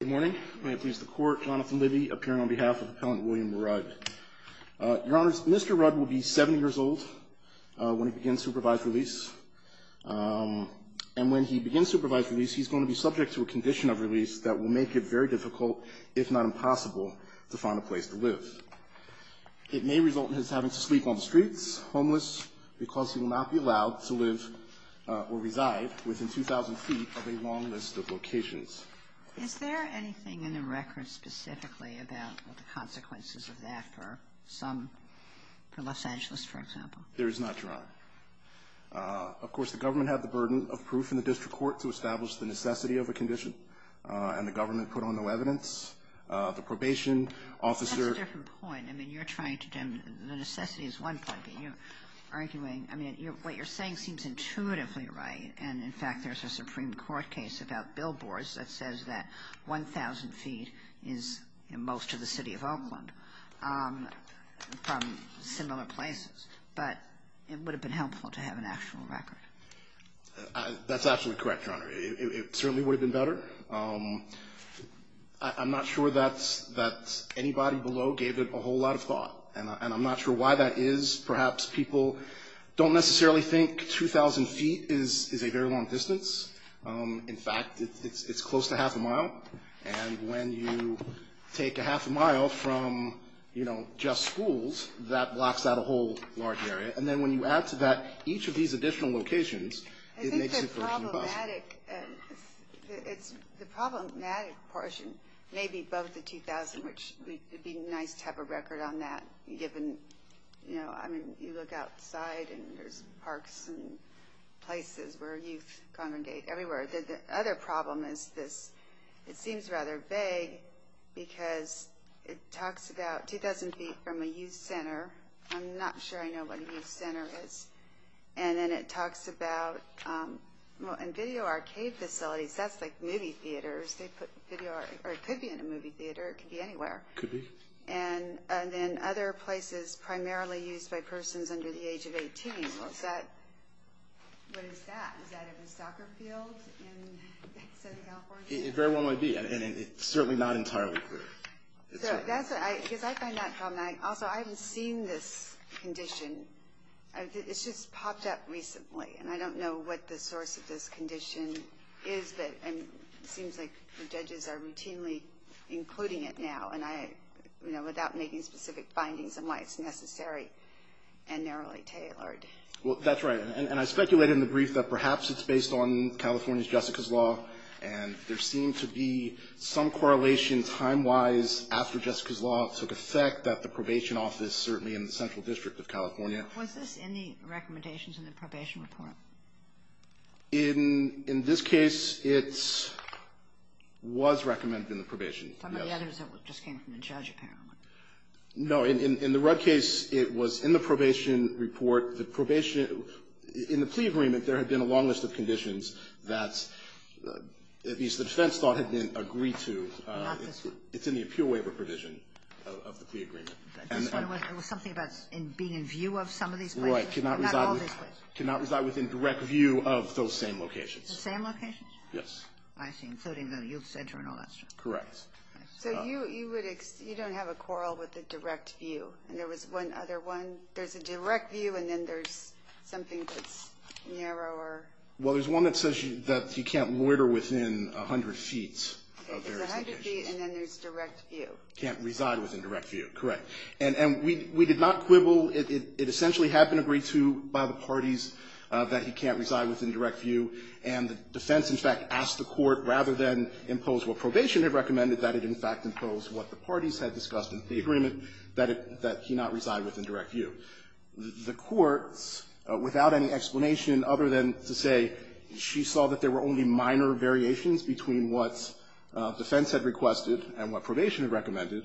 Good morning. May it please the Court, Jonathan Libby, appearing on behalf of Appellant William Rudd. Your Honors, Mr. Rudd will be 70 years old when he begins supervised release. And when he begins supervised release, he's going to be subject to a condition of release that will make it very difficult, if not impossible, to find a place to live. It may result in his having to sleep on the streets, homeless, because he will not be allowed to live or reside within 2,000 feet of a long list of locations. Is there anything in the record specifically about the consequences of that for some, for Los Angeles, for example? There is not, Your Honor. Of course, the government had the burden of proof in the district court to establish the necessity of a condition, and the government put on no evidence. The probation officer — That's a different point. I mean, you're trying to — the necessity is one point, but you're arguing — I mean, what you're saying seems intuitively right. And, in fact, there's a Supreme Court case about billboards that says that 1,000 feet is most of the city of Oakland from similar places. But it would have been helpful to have an actual record. That's absolutely correct, Your Honor. It certainly would have been better. I'm not sure that anybody below gave it a whole lot of thought, and I'm not sure why that is. Perhaps people don't necessarily think 2,000 feet is a very long distance. In fact, it's close to half a mile. And when you take a half a mile from, you know, just schools, that blocks out a whole large area. And then when you add to that each of these additional locations, it makes it for a few bucks. I think the problematic — the problematic portion may be above the 2,000, which would be nice to have a record on that, given, you know, I mean, you look outside and there's parks and places where youth congregate everywhere. The other problem is this. It seems rather vague because it talks about 2,000 feet from a youth center. I'm not sure I know what a youth center is. And then it talks about — well, in video arcade facilities, that's like movie theaters. They put video — or it could be in a movie theater. It could be anywhere. Could be. And then other places primarily used by persons under the age of 18. Well, is that — what is that? Is that a soccer field in Southern California? It very well might be, and it's certainly not entirely clear. So that's — because I find that problematic. Also, I haven't seen this condition. It's just popped up recently, and I don't know what the source of this condition is. It seems like the judges are routinely including it now, you know, without making specific findings on why it's necessary and narrowly tailored. Well, that's right. And I speculated in the brief that perhaps it's based on California's Jessica's Law, and there seemed to be some correlation time-wise after Jessica's Law took effect that the probation office, certainly in the Central District of California — Was this in the recommendations in the probation report? In this case, it was recommended in the probation. Some of the others just came from the judge, apparently. No. In the Rudd case, it was in the probation report. The probation — in the plea agreement, there had been a long list of conditions that at least the defense thought had been agreed to. Not this one. It's in the appeal waiver provision of the plea agreement. It was something about being in view of some of these places. Right. Not all these places. Cannot reside within direct view of those same locations. The same locations? Yes. I see, including the youth center and all that stuff. Correct. So you don't have a quarrel with the direct view? And there was one other one. There's a direct view, and then there's something that's narrower. Well, there's one that says that you can't loiter within 100 feet of various locations. It's 100 feet, and then there's direct view. Can't reside within direct view. Correct. And we did not quibble. It essentially had been agreed to by the parties that he can't reside within direct view, and the defense, in fact, asked the court, rather than impose what probation had recommended, that it, in fact, imposed what the parties had discussed in the agreement that he not reside within direct view. The courts, without any explanation other than to say she saw that there were only minor variations between what defense had requested and what probation had recommended,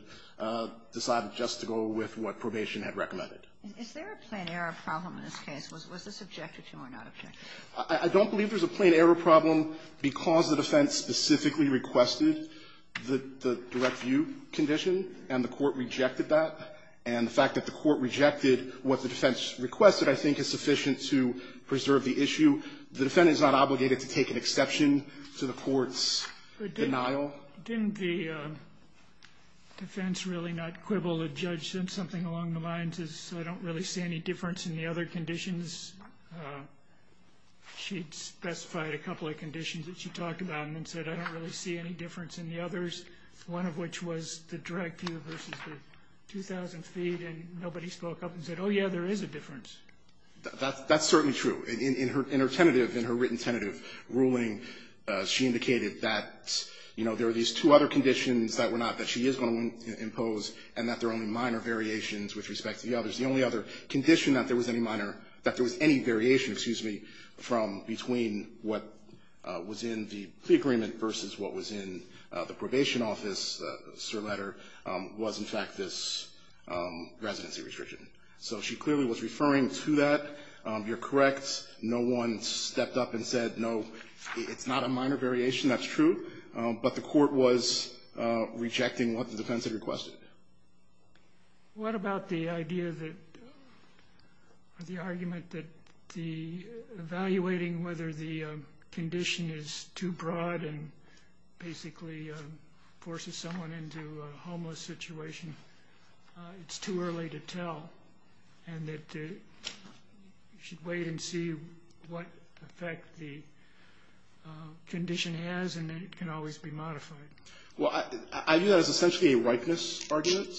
decided just to go with what probation had recommended. Is there a plain error problem in this case? Was this objected to or not objected to? I don't believe there's a plain error problem because the defense specifically requested the direct view condition, and the court rejected that. And the fact that the court rejected what the defense requested, I think, is sufficient to preserve the issue. Denial? Didn't the defense really not quibble? The judge said something along the lines of I don't really see any difference in the other conditions. She specified a couple of conditions that she talked about and then said I don't really see any difference in the others, one of which was the direct view versus the 2,000 feet, and nobody spoke up and said, oh, yeah, there is a difference. That's certainly true. In her tentative, in her written tentative ruling, she indicated that, you know, there are these two other conditions that were not, that she is going to impose and that there are only minor variations with respect to the others. The only other condition that there was any minor, that there was any variation, excuse me, from between what was in the plea agreement versus what was in the probation office letter was, in fact, this residency restriction. So she clearly was referring to that. You're correct. No one stepped up and said, no, it's not a minor variation. That's true. But the court was rejecting what the defense had requested. What about the idea that, or the argument that the, evaluating whether the condition is too broad and basically forces someone into a homeless situation, it's too early to tell, and that you should wait and see what effect the condition has, and it can always be modified? Well, I view that as essentially a ripeness argument,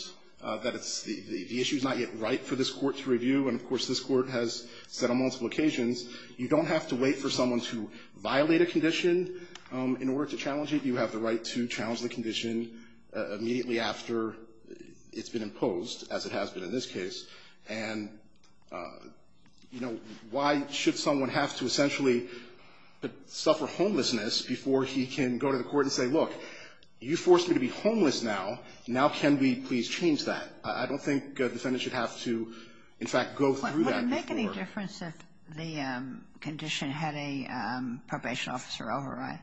that it's, the issue is not yet right for this court to review, and of course this court has said on multiple occasions, you don't have to wait for someone to violate a condition in order to challenge it. You have the right to challenge the condition immediately after it's been imposed, as it has been in this case, and, you know, why should someone have to essentially suffer homelessness before he can go to the court and say, look, you forced me to be homeless now. Now can we please change that? I don't think a defendant should have to, in fact, go through that before. Would it make any difference if the condition had a probation officer override?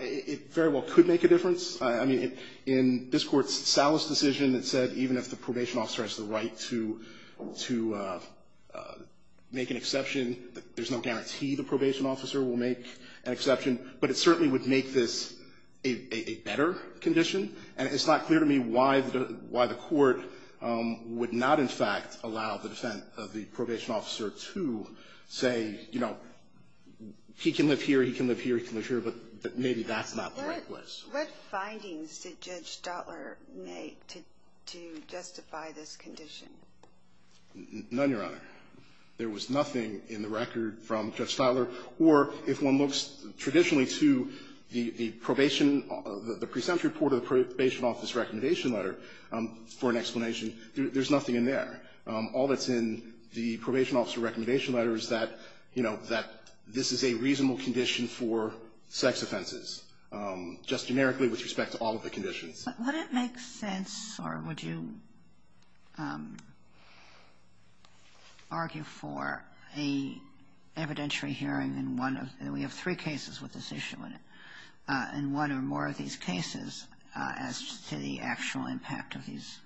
It very well could make a difference. I mean, in this Court's Salas decision, it said even if the probation officer has the right to make an exception, there's no guarantee the probation officer will make an exception, but it certainly would make this a better condition, and it's not clear to me why the court would not, in fact, allow the defense of the What findings did Judge Stotler make to justify this condition? None, Your Honor. There was nothing in the record from Judge Stotler. Or if one looks traditionally to the probation, the present report of the probation office recommendation letter for an explanation, there's nothing in there. All that's in the probation officer recommendation letter is that, you know, that this is a reasonable condition for sex offenses, just generically with respect to all of the conditions. But would it make sense or would you argue for an evidentiary hearing in one of the we have three cases with this issue in it, in one or more of these cases, as to the actual impact of these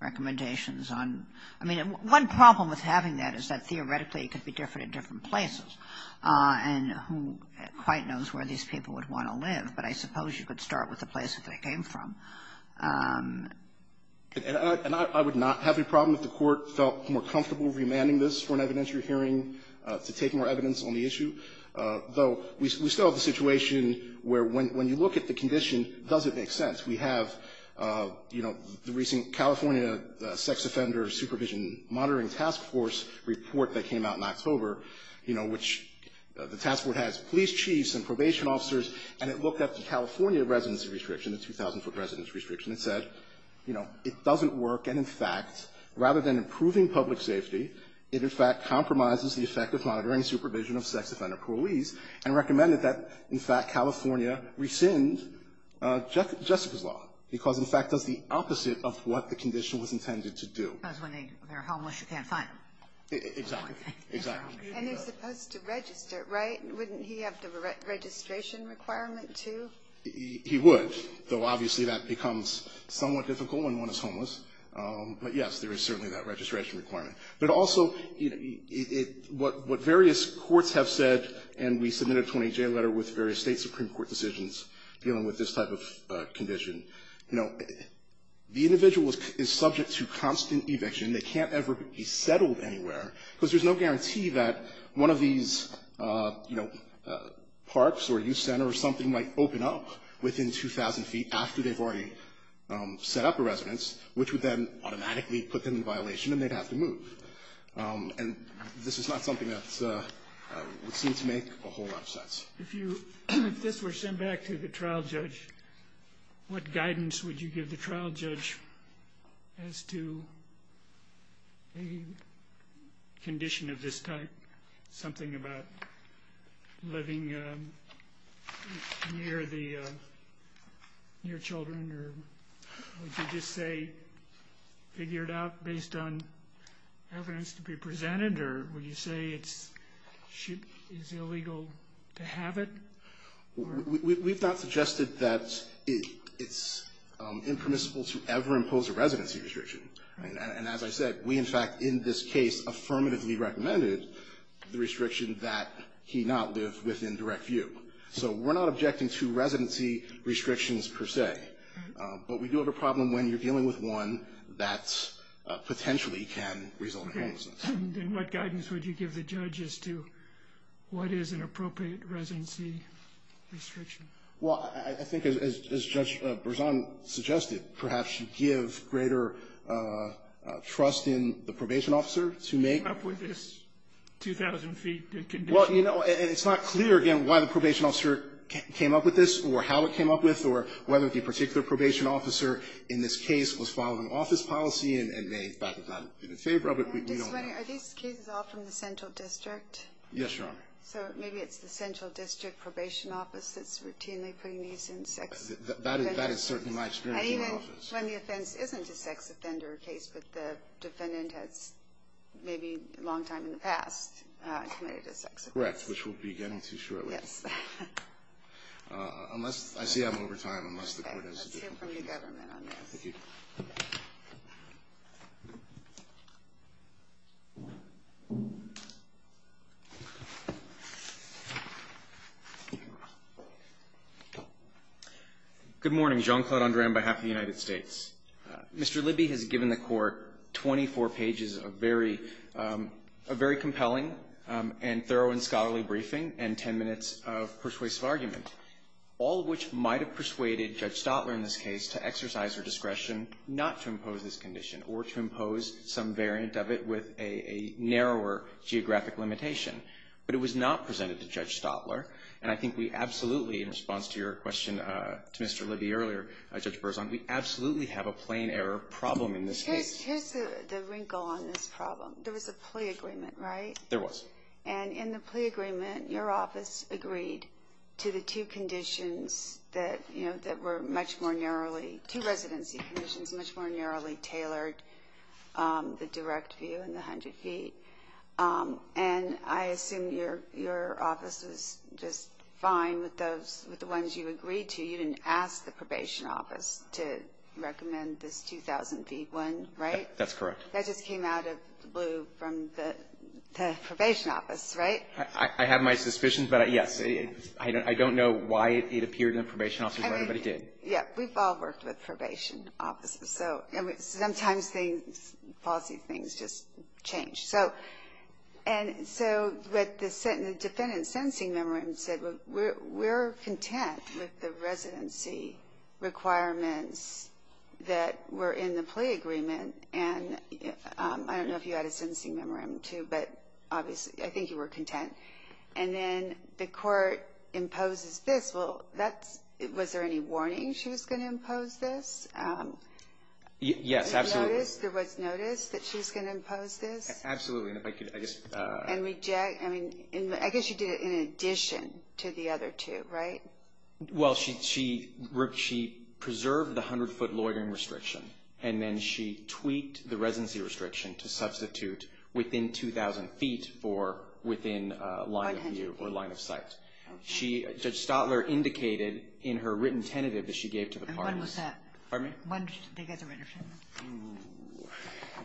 recommendations on I mean, one problem with having that is that theoretically it could be different places, and who quite knows where these people would want to live, but I suppose you could start with the places they came from. And I would not have a problem if the court felt more comfortable remanding this for an evidentiary hearing to take more evidence on the issue, though we still have a situation where when you look at the condition, does it make sense? We have, you know, the recent California Sex Offender Supervision Monitoring Task Force report that came out in October, you know, which the task force has police chiefs and probation officers, and it looked at the California residency restriction, the 2,000-foot residency restriction. It said, you know, it doesn't work, and in fact, rather than improving public safety, it in fact compromises the effect of monitoring supervision of sex offender police, and recommended that in fact California rescind Jessica's law, because in fact does the opposite of what the condition was intended to do. Because when they're homeless, you can't find them. Exactly, exactly. And they're supposed to register, right? Wouldn't he have the registration requirement, too? He would, though obviously that becomes somewhat difficult when one is homeless, but yes, there is certainly that registration requirement. But also, you know, what various courts have said, and we submitted a 20-J letter with various state Supreme Court decisions dealing with this type of condition, you know, the individual is subject to constant eviction. They can't ever be settled anywhere, because there's no guarantee that one of these, you know, parks or youth center or something might open up within 2,000 feet after they've already set up a residence, which would then automatically put them in violation and they'd have to move. And this is not something that would seem to make a whole lot of sense. If this were sent back to the trial judge, what guidance would you give the trial judge as to a condition of this type, something about living near children, or would you just say figure it out based on evidence to be presented, or would you say it's illegal to have it? We've not suggested that it's impermissible to ever impose a residency restriction. And as I said, we in fact in this case affirmatively recommended the restriction that he not live within direct view. So we're not objecting to residency restrictions per se, but we do have a problem when you're dealing with one that potentially can result in homelessness. And what guidance would you give the judge as to what is an appropriate residency restriction? Well, I think as Judge Berzon suggested, perhaps you give greater trust in the probation officer to make up with this 2,000 feet condition. Well, you know, it's not clear again why the probation officer came up with this or how it came up with or whether the particular probation officer in this case was following office policy and may in fact have not been in favor of it. We don't know. Are these cases all from the central district? Yes, Your Honor. So maybe it's the central district probation office that's routinely putting these in sex offenders' cases. That is certainly my experience in the office. And even when the offense isn't a sex offender case, but the defendant has maybe a long time in the past committed a sex offense. Correct, which we'll be getting to shortly. Yes. I see I'm over time unless the court has a different case. We'll hear from the government on this. Thank you. Good morning. Jean-Claude Andre on behalf of the United States. Mr. Libby has given the court 24 pages of very compelling and thorough and scholarly briefing and 10 minutes of persuasive argument, all of which might have persuaded Judge Stotler in this case to exercise her discretion not to impose this condition or to impose some variant of it with a narrower geographic limitation. But it was not presented to Judge Stotler. And I think we absolutely, in response to your question to Mr. Libby earlier, Judge Berzon, we absolutely have a plain error problem in this case. Here's the wrinkle on this problem. There was a plea agreement, right? There was. And in the plea agreement, your office agreed to the two conditions that were much more narrowly, two residency conditions much more narrowly tailored, the direct view and the 100 feet. And I assume your office was just fine with the ones you agreed to. You didn't ask the probation office to recommend this 2,000 feet one, right? That's correct. That just came out of the blue from the probation office, right? I have my suspicions. But, yes, I don't know why it appeared in the probation officer's writing, but it did. Yeah. We've all worked with probation offices. So sometimes things, policy things, just change. So what the defendant's sentencing memorandum said, we're content with the residency requirements that were in the plea agreement. And I don't know if you had a sentencing memorandum, too, but obviously I think you were content. And then the court imposes this. Well, was there any warning she was going to impose this? Yes, absolutely. There was notice that she was going to impose this? Absolutely. And I guess she did it in addition to the other two, right? Well, she preserved the 100-foot loitering restriction, and then she tweaked the residency restriction to substitute within 2,000 feet for within line of view or line of sight. Okay. Judge Stotler indicated in her written tentative that she gave to the parties. And when was that? Pardon me? When did they get the written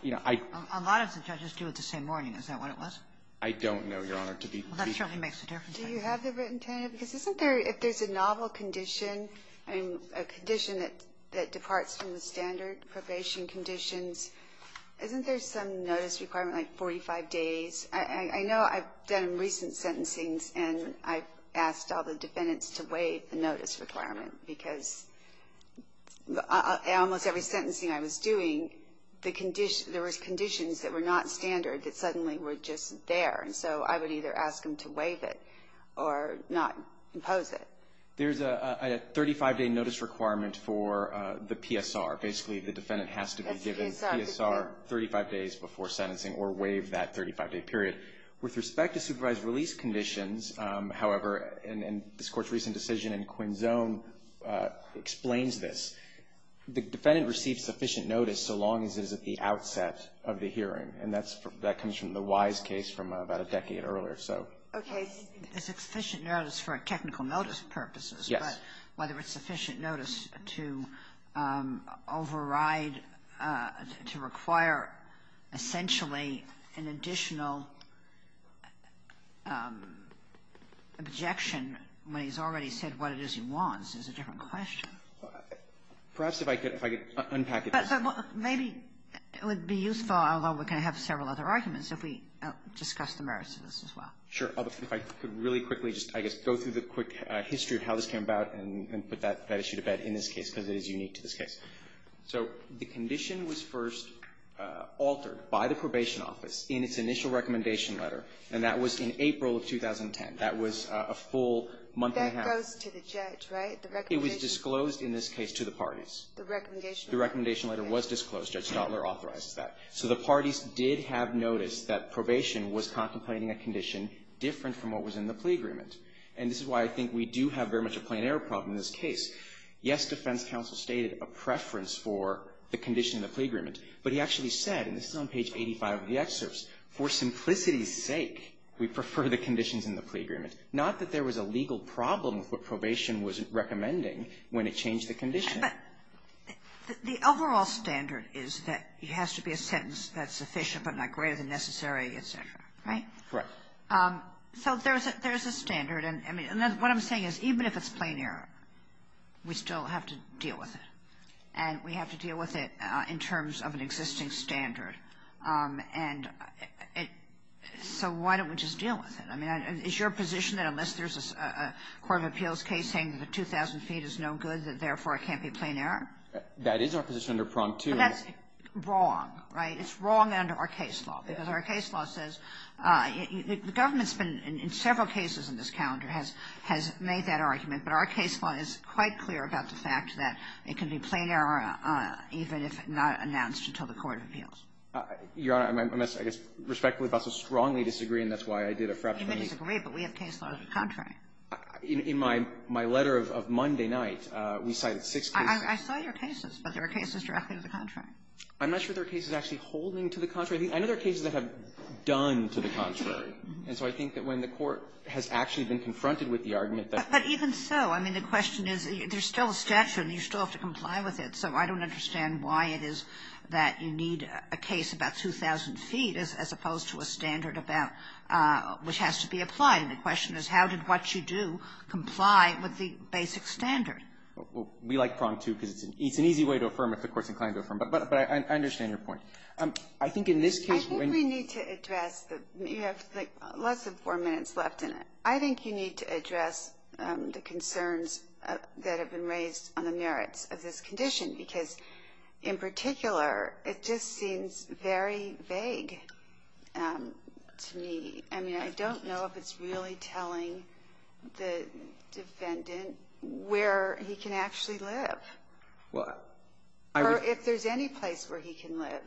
tentative? A lot of the judges do it the same morning. Is that what it was? I don't know, Your Honor. Well, that certainly makes a difference. Do you have the written tentative? Because isn't there, if there's a novel condition, I mean, a condition that departs from the standard probation conditions, isn't there some notice requirement, like 45 days? I know I've done recent sentencings, and I've asked all the defendants to waive the notice requirement because almost every sentencing I was doing, there was conditions that were not standard that suddenly were just there. And so I would either ask them to waive it or not impose it. There's a 35-day notice requirement for the PSR. Basically, the defendant has to be given PSR 35 days before sentencing or waive that 35-day period. With respect to supervised release conditions, however, and this Court's recent decision in Quinzone explains this, the defendant receives sufficient notice so long as it is at the outset of the hearing. And that comes from the Wise case from about a decade earlier, so. Okay. It's sufficient notice for technical notice purposes. Yes. But whether it's sufficient notice to override, to require essentially an additional objection when he's already said what it is he wants is a different question. Perhaps if I could unpack it. Maybe it would be useful, although we're going to have several other arguments, if we discuss the merits of this as well. Sure. If I could really quickly just, I guess, go through the quick history of how this came about and put that issue to bed in this case because it is unique to this case. So the condition was first altered by the Probation Office in its initial recommendation letter, and that was in April of 2010. That was a full month and a half. That goes to the judge, right? It was disclosed in this case to the parties. The recommendation letter. The recommendation letter was disclosed. Judge Stotler authorizes that. So the parties did have notice that probation was contemplating a condition different from what was in the plea agreement. And this is why I think we do have very much a plain error problem in this case. Yes, defense counsel stated a preference for the condition in the plea agreement, but he actually said, and this is on page 85 of the excerpts, for simplicity's sake, we prefer the conditions in the plea agreement. Not that there was a legal problem with what probation was recommending when it changed the condition. But the overall standard is that it has to be a sentence that's sufficient but not greater than necessary, et cetera, right? Correct. So there's a standard. And what I'm saying is even if it's plain error, we still have to deal with it. And we have to deal with it in terms of an existing standard. And so why don't we just deal with it? I mean, is your position that unless there's a court of appeals case saying that a 2,000 feet is no good, that therefore it can't be plain error? That is our position under Prompt 2. But that's wrong, right? It's wrong under our case law. Because our case law says the government's been in several cases in this calendar has made that argument. But our case law is quite clear about the fact that it can be plain error even if not announced until the court of appeals. Your Honor, I must, I guess, respectfully, also strongly disagree, and that's why I did a frappe for me. You may disagree, but we have case law that's contrary. In my letter of Monday night, we cited six cases. I saw your cases, but there are cases directly to the contrary. I'm not sure there are cases actually holding to the contrary. I know there are cases that have done to the contrary. And so I think that when the court has actually been confronted with the argument that we have to deal with it. But even so, I mean, the question is, there's still a statute, and you still have to comply with it. So I don't understand why it is that you need a case about 2,000 feet as opposed to a standard about which has to be applied. And the question is, how did what you do comply with the basic standard? We like Prong, too, because it's an easy way to affirm if the court's inclined to affirm. But I understand your point. I think in this case when you need to address, you have less than four minutes left in it. I think you need to address the concerns that have been raised on the merits of this condition, because in particular, it just seems very vague to me. I mean, I don't know if it's really telling the defendant where he can actually live or if there's any place where he can live.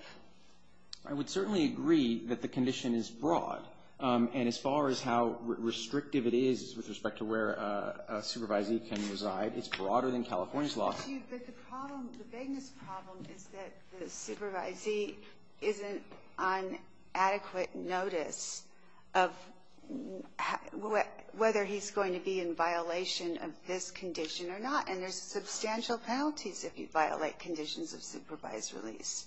I would certainly agree that the condition is broad. And as far as how restrictive it is with respect to where a supervisee can reside, it's broader than California's law. But the problem, the vagueness problem, is that the supervisee isn't on adequate notice of whether he's going to be in violation of this condition or not. And there's substantial penalties if you violate conditions of supervised release.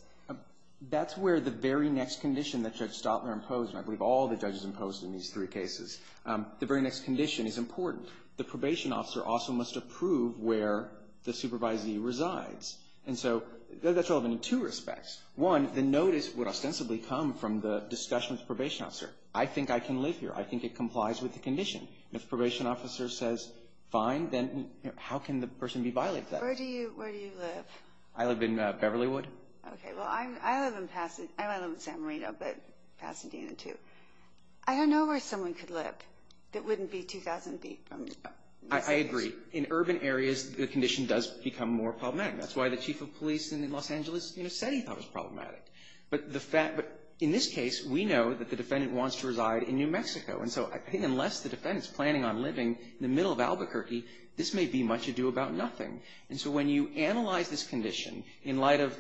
That's where the very next condition that Judge Stotler imposed, and I believe all the judges imposed in these three cases, the very next condition is important. The probation officer also must approve where the supervisee resides. And so that's relevant in two respects. One, the notice would ostensibly come from the discussion with the probation officer. I think I can live here. I think it complies with the condition. If the probation officer says fine, then how can the person be violated? Where do you live? I live in Beverlywood. Okay. Well, I live in Pasadena. I live in San Marino, but Pasadena, too. I don't know where someone could live that wouldn't be 2,000 feet from the scene. I agree. In urban areas, the condition does become more problematic. That's why the chief of police in Los Angeles, you know, said he thought it was problematic. But in this case, we know that the defendant wants to reside in New Mexico. And so I think unless the defendant's planning on living in the middle of Albuquerque, this may be much ado about nothing. And so when you analyze this condition in light of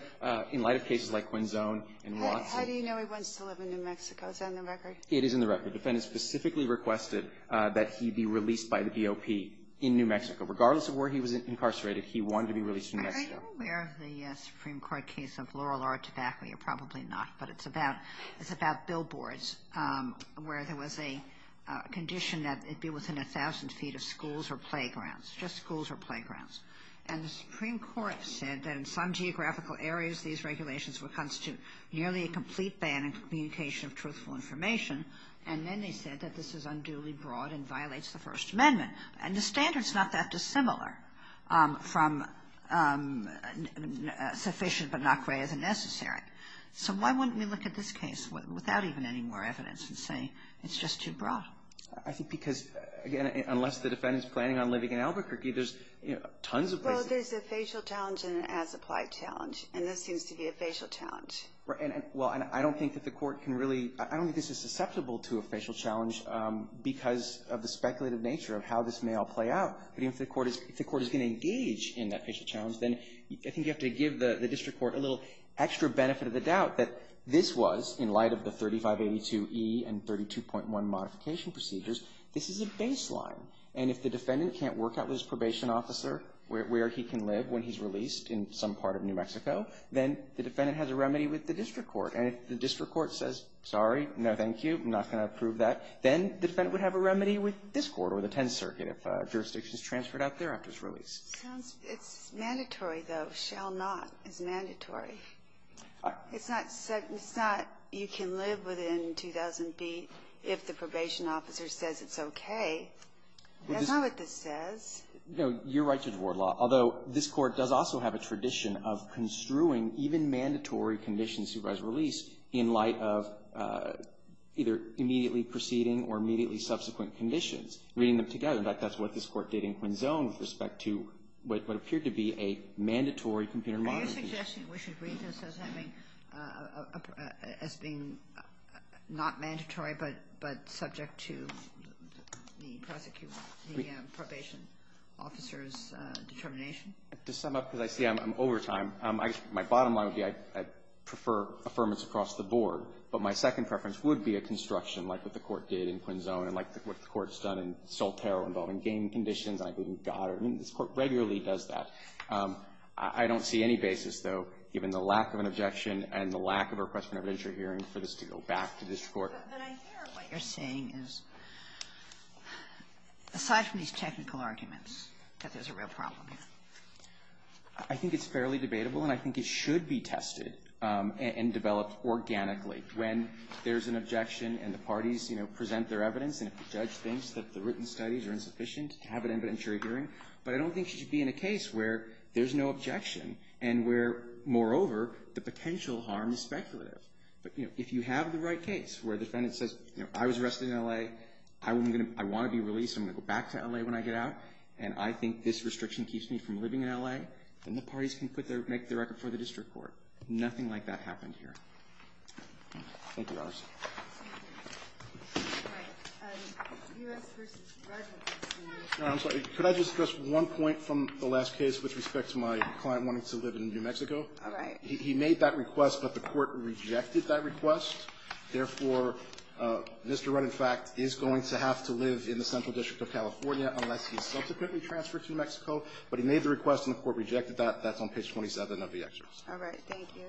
cases like Quinzone and Watson. How do you know he wants to live in New Mexico? Is that in the record? It is in the record. The defendant specifically requested that he be released by the GOP in New Mexico. Regardless of where he was incarcerated, he wanted to be released in New Mexico. Are you aware of the Supreme Court case of Laurel R. Tabacco? You're probably not, but it's about billboards where there was a condition that it be within 1,000 feet of schools or playgrounds, just schools or playgrounds. And the Supreme Court said that in some geographical areas, these And then they said that this is unduly broad and violates the First Amendment. And the standard's not that dissimilar from sufficient but not quite as necessary. So why wouldn't we look at this case without even any more evidence and say it's just too broad? I think because, again, unless the defendant's planning on living in Albuquerque, there's tons of places. Well, there's a facial challenge and an as-applied challenge. And this seems to be a facial challenge. Right. Well, and I don't think that the court can really, I don't think this is susceptible to a facial challenge because of the speculative nature of how this may all play out. But even if the court is going to engage in that facial challenge, then I think you have to give the district court a little extra benefit of the doubt that this was, in light of the 3582E and 32.1 modification procedures, this is a baseline. And if the defendant can't work out with his probation officer where he can live when he's released in some part of New Mexico, then the defendant has a remedy with the district court. And if the district court says, sorry, no, thank you, I'm not going to approve that, then the defendant would have a remedy with this court or the Tenth Circuit if jurisdiction is transferred out there after his release. It's mandatory, though. Shall not is mandatory. It's not you can live within 2,000 feet if the probation officer says it's okay. That's not what this says. No. You're right, Judge Wardlaw, although this Court does also have a tradition of construing even mandatory conditions for his release in light of either immediately proceeding or immediately subsequent conditions, reading them together. In fact, that's what this Court did in Quinzone with respect to what appeared to be a mandatory computer modification. Are you suggesting we should read this as having as being not mandatory but subject to the prosecution, the probation officer's determination? To sum up, because I see I'm over time, my bottom line would be I prefer affirmance across the board, but my second preference would be a construction like what the Court did in Quinzone and like what the Court's done in Soltero involving game conditions, and I believe we've got it. I mean, this Court regularly does that. I don't see any basis, though, given the lack of an objection and the lack of a request for an evidentiary hearing for this to go back to district court. But I hear what you're saying is, aside from these technical arguments, that there's a real problem. I think it's fairly debatable, and I think it should be tested and developed organically when there's an objection and the parties, you know, present their evidence and if the judge thinks that the written studies are insufficient, have an evidentiary hearing, but I don't think it should be in a case where there's no objection and where, moreover, the potential harm is speculative. But, you know, if you have the right case where the defendant says, you know, I was arrested in L.A., I want to be released, I'm going to go back to L.A. when I get out, and I think this restriction keeps me from living in L.A., then the parties can make their record for the district court. Thank you, Your Honors. Could I just address one point from the last case with respect to my client wanting to live in New Mexico? All right. He made that request, but the court rejected that request. Therefore, Mr. Rudd, in fact, is going to have to live in the Central District of California unless he's subsequently transferred to New Mexico, but he made the request and the court rejected that. That's on page 27 of the excerpt. All right. Thank you.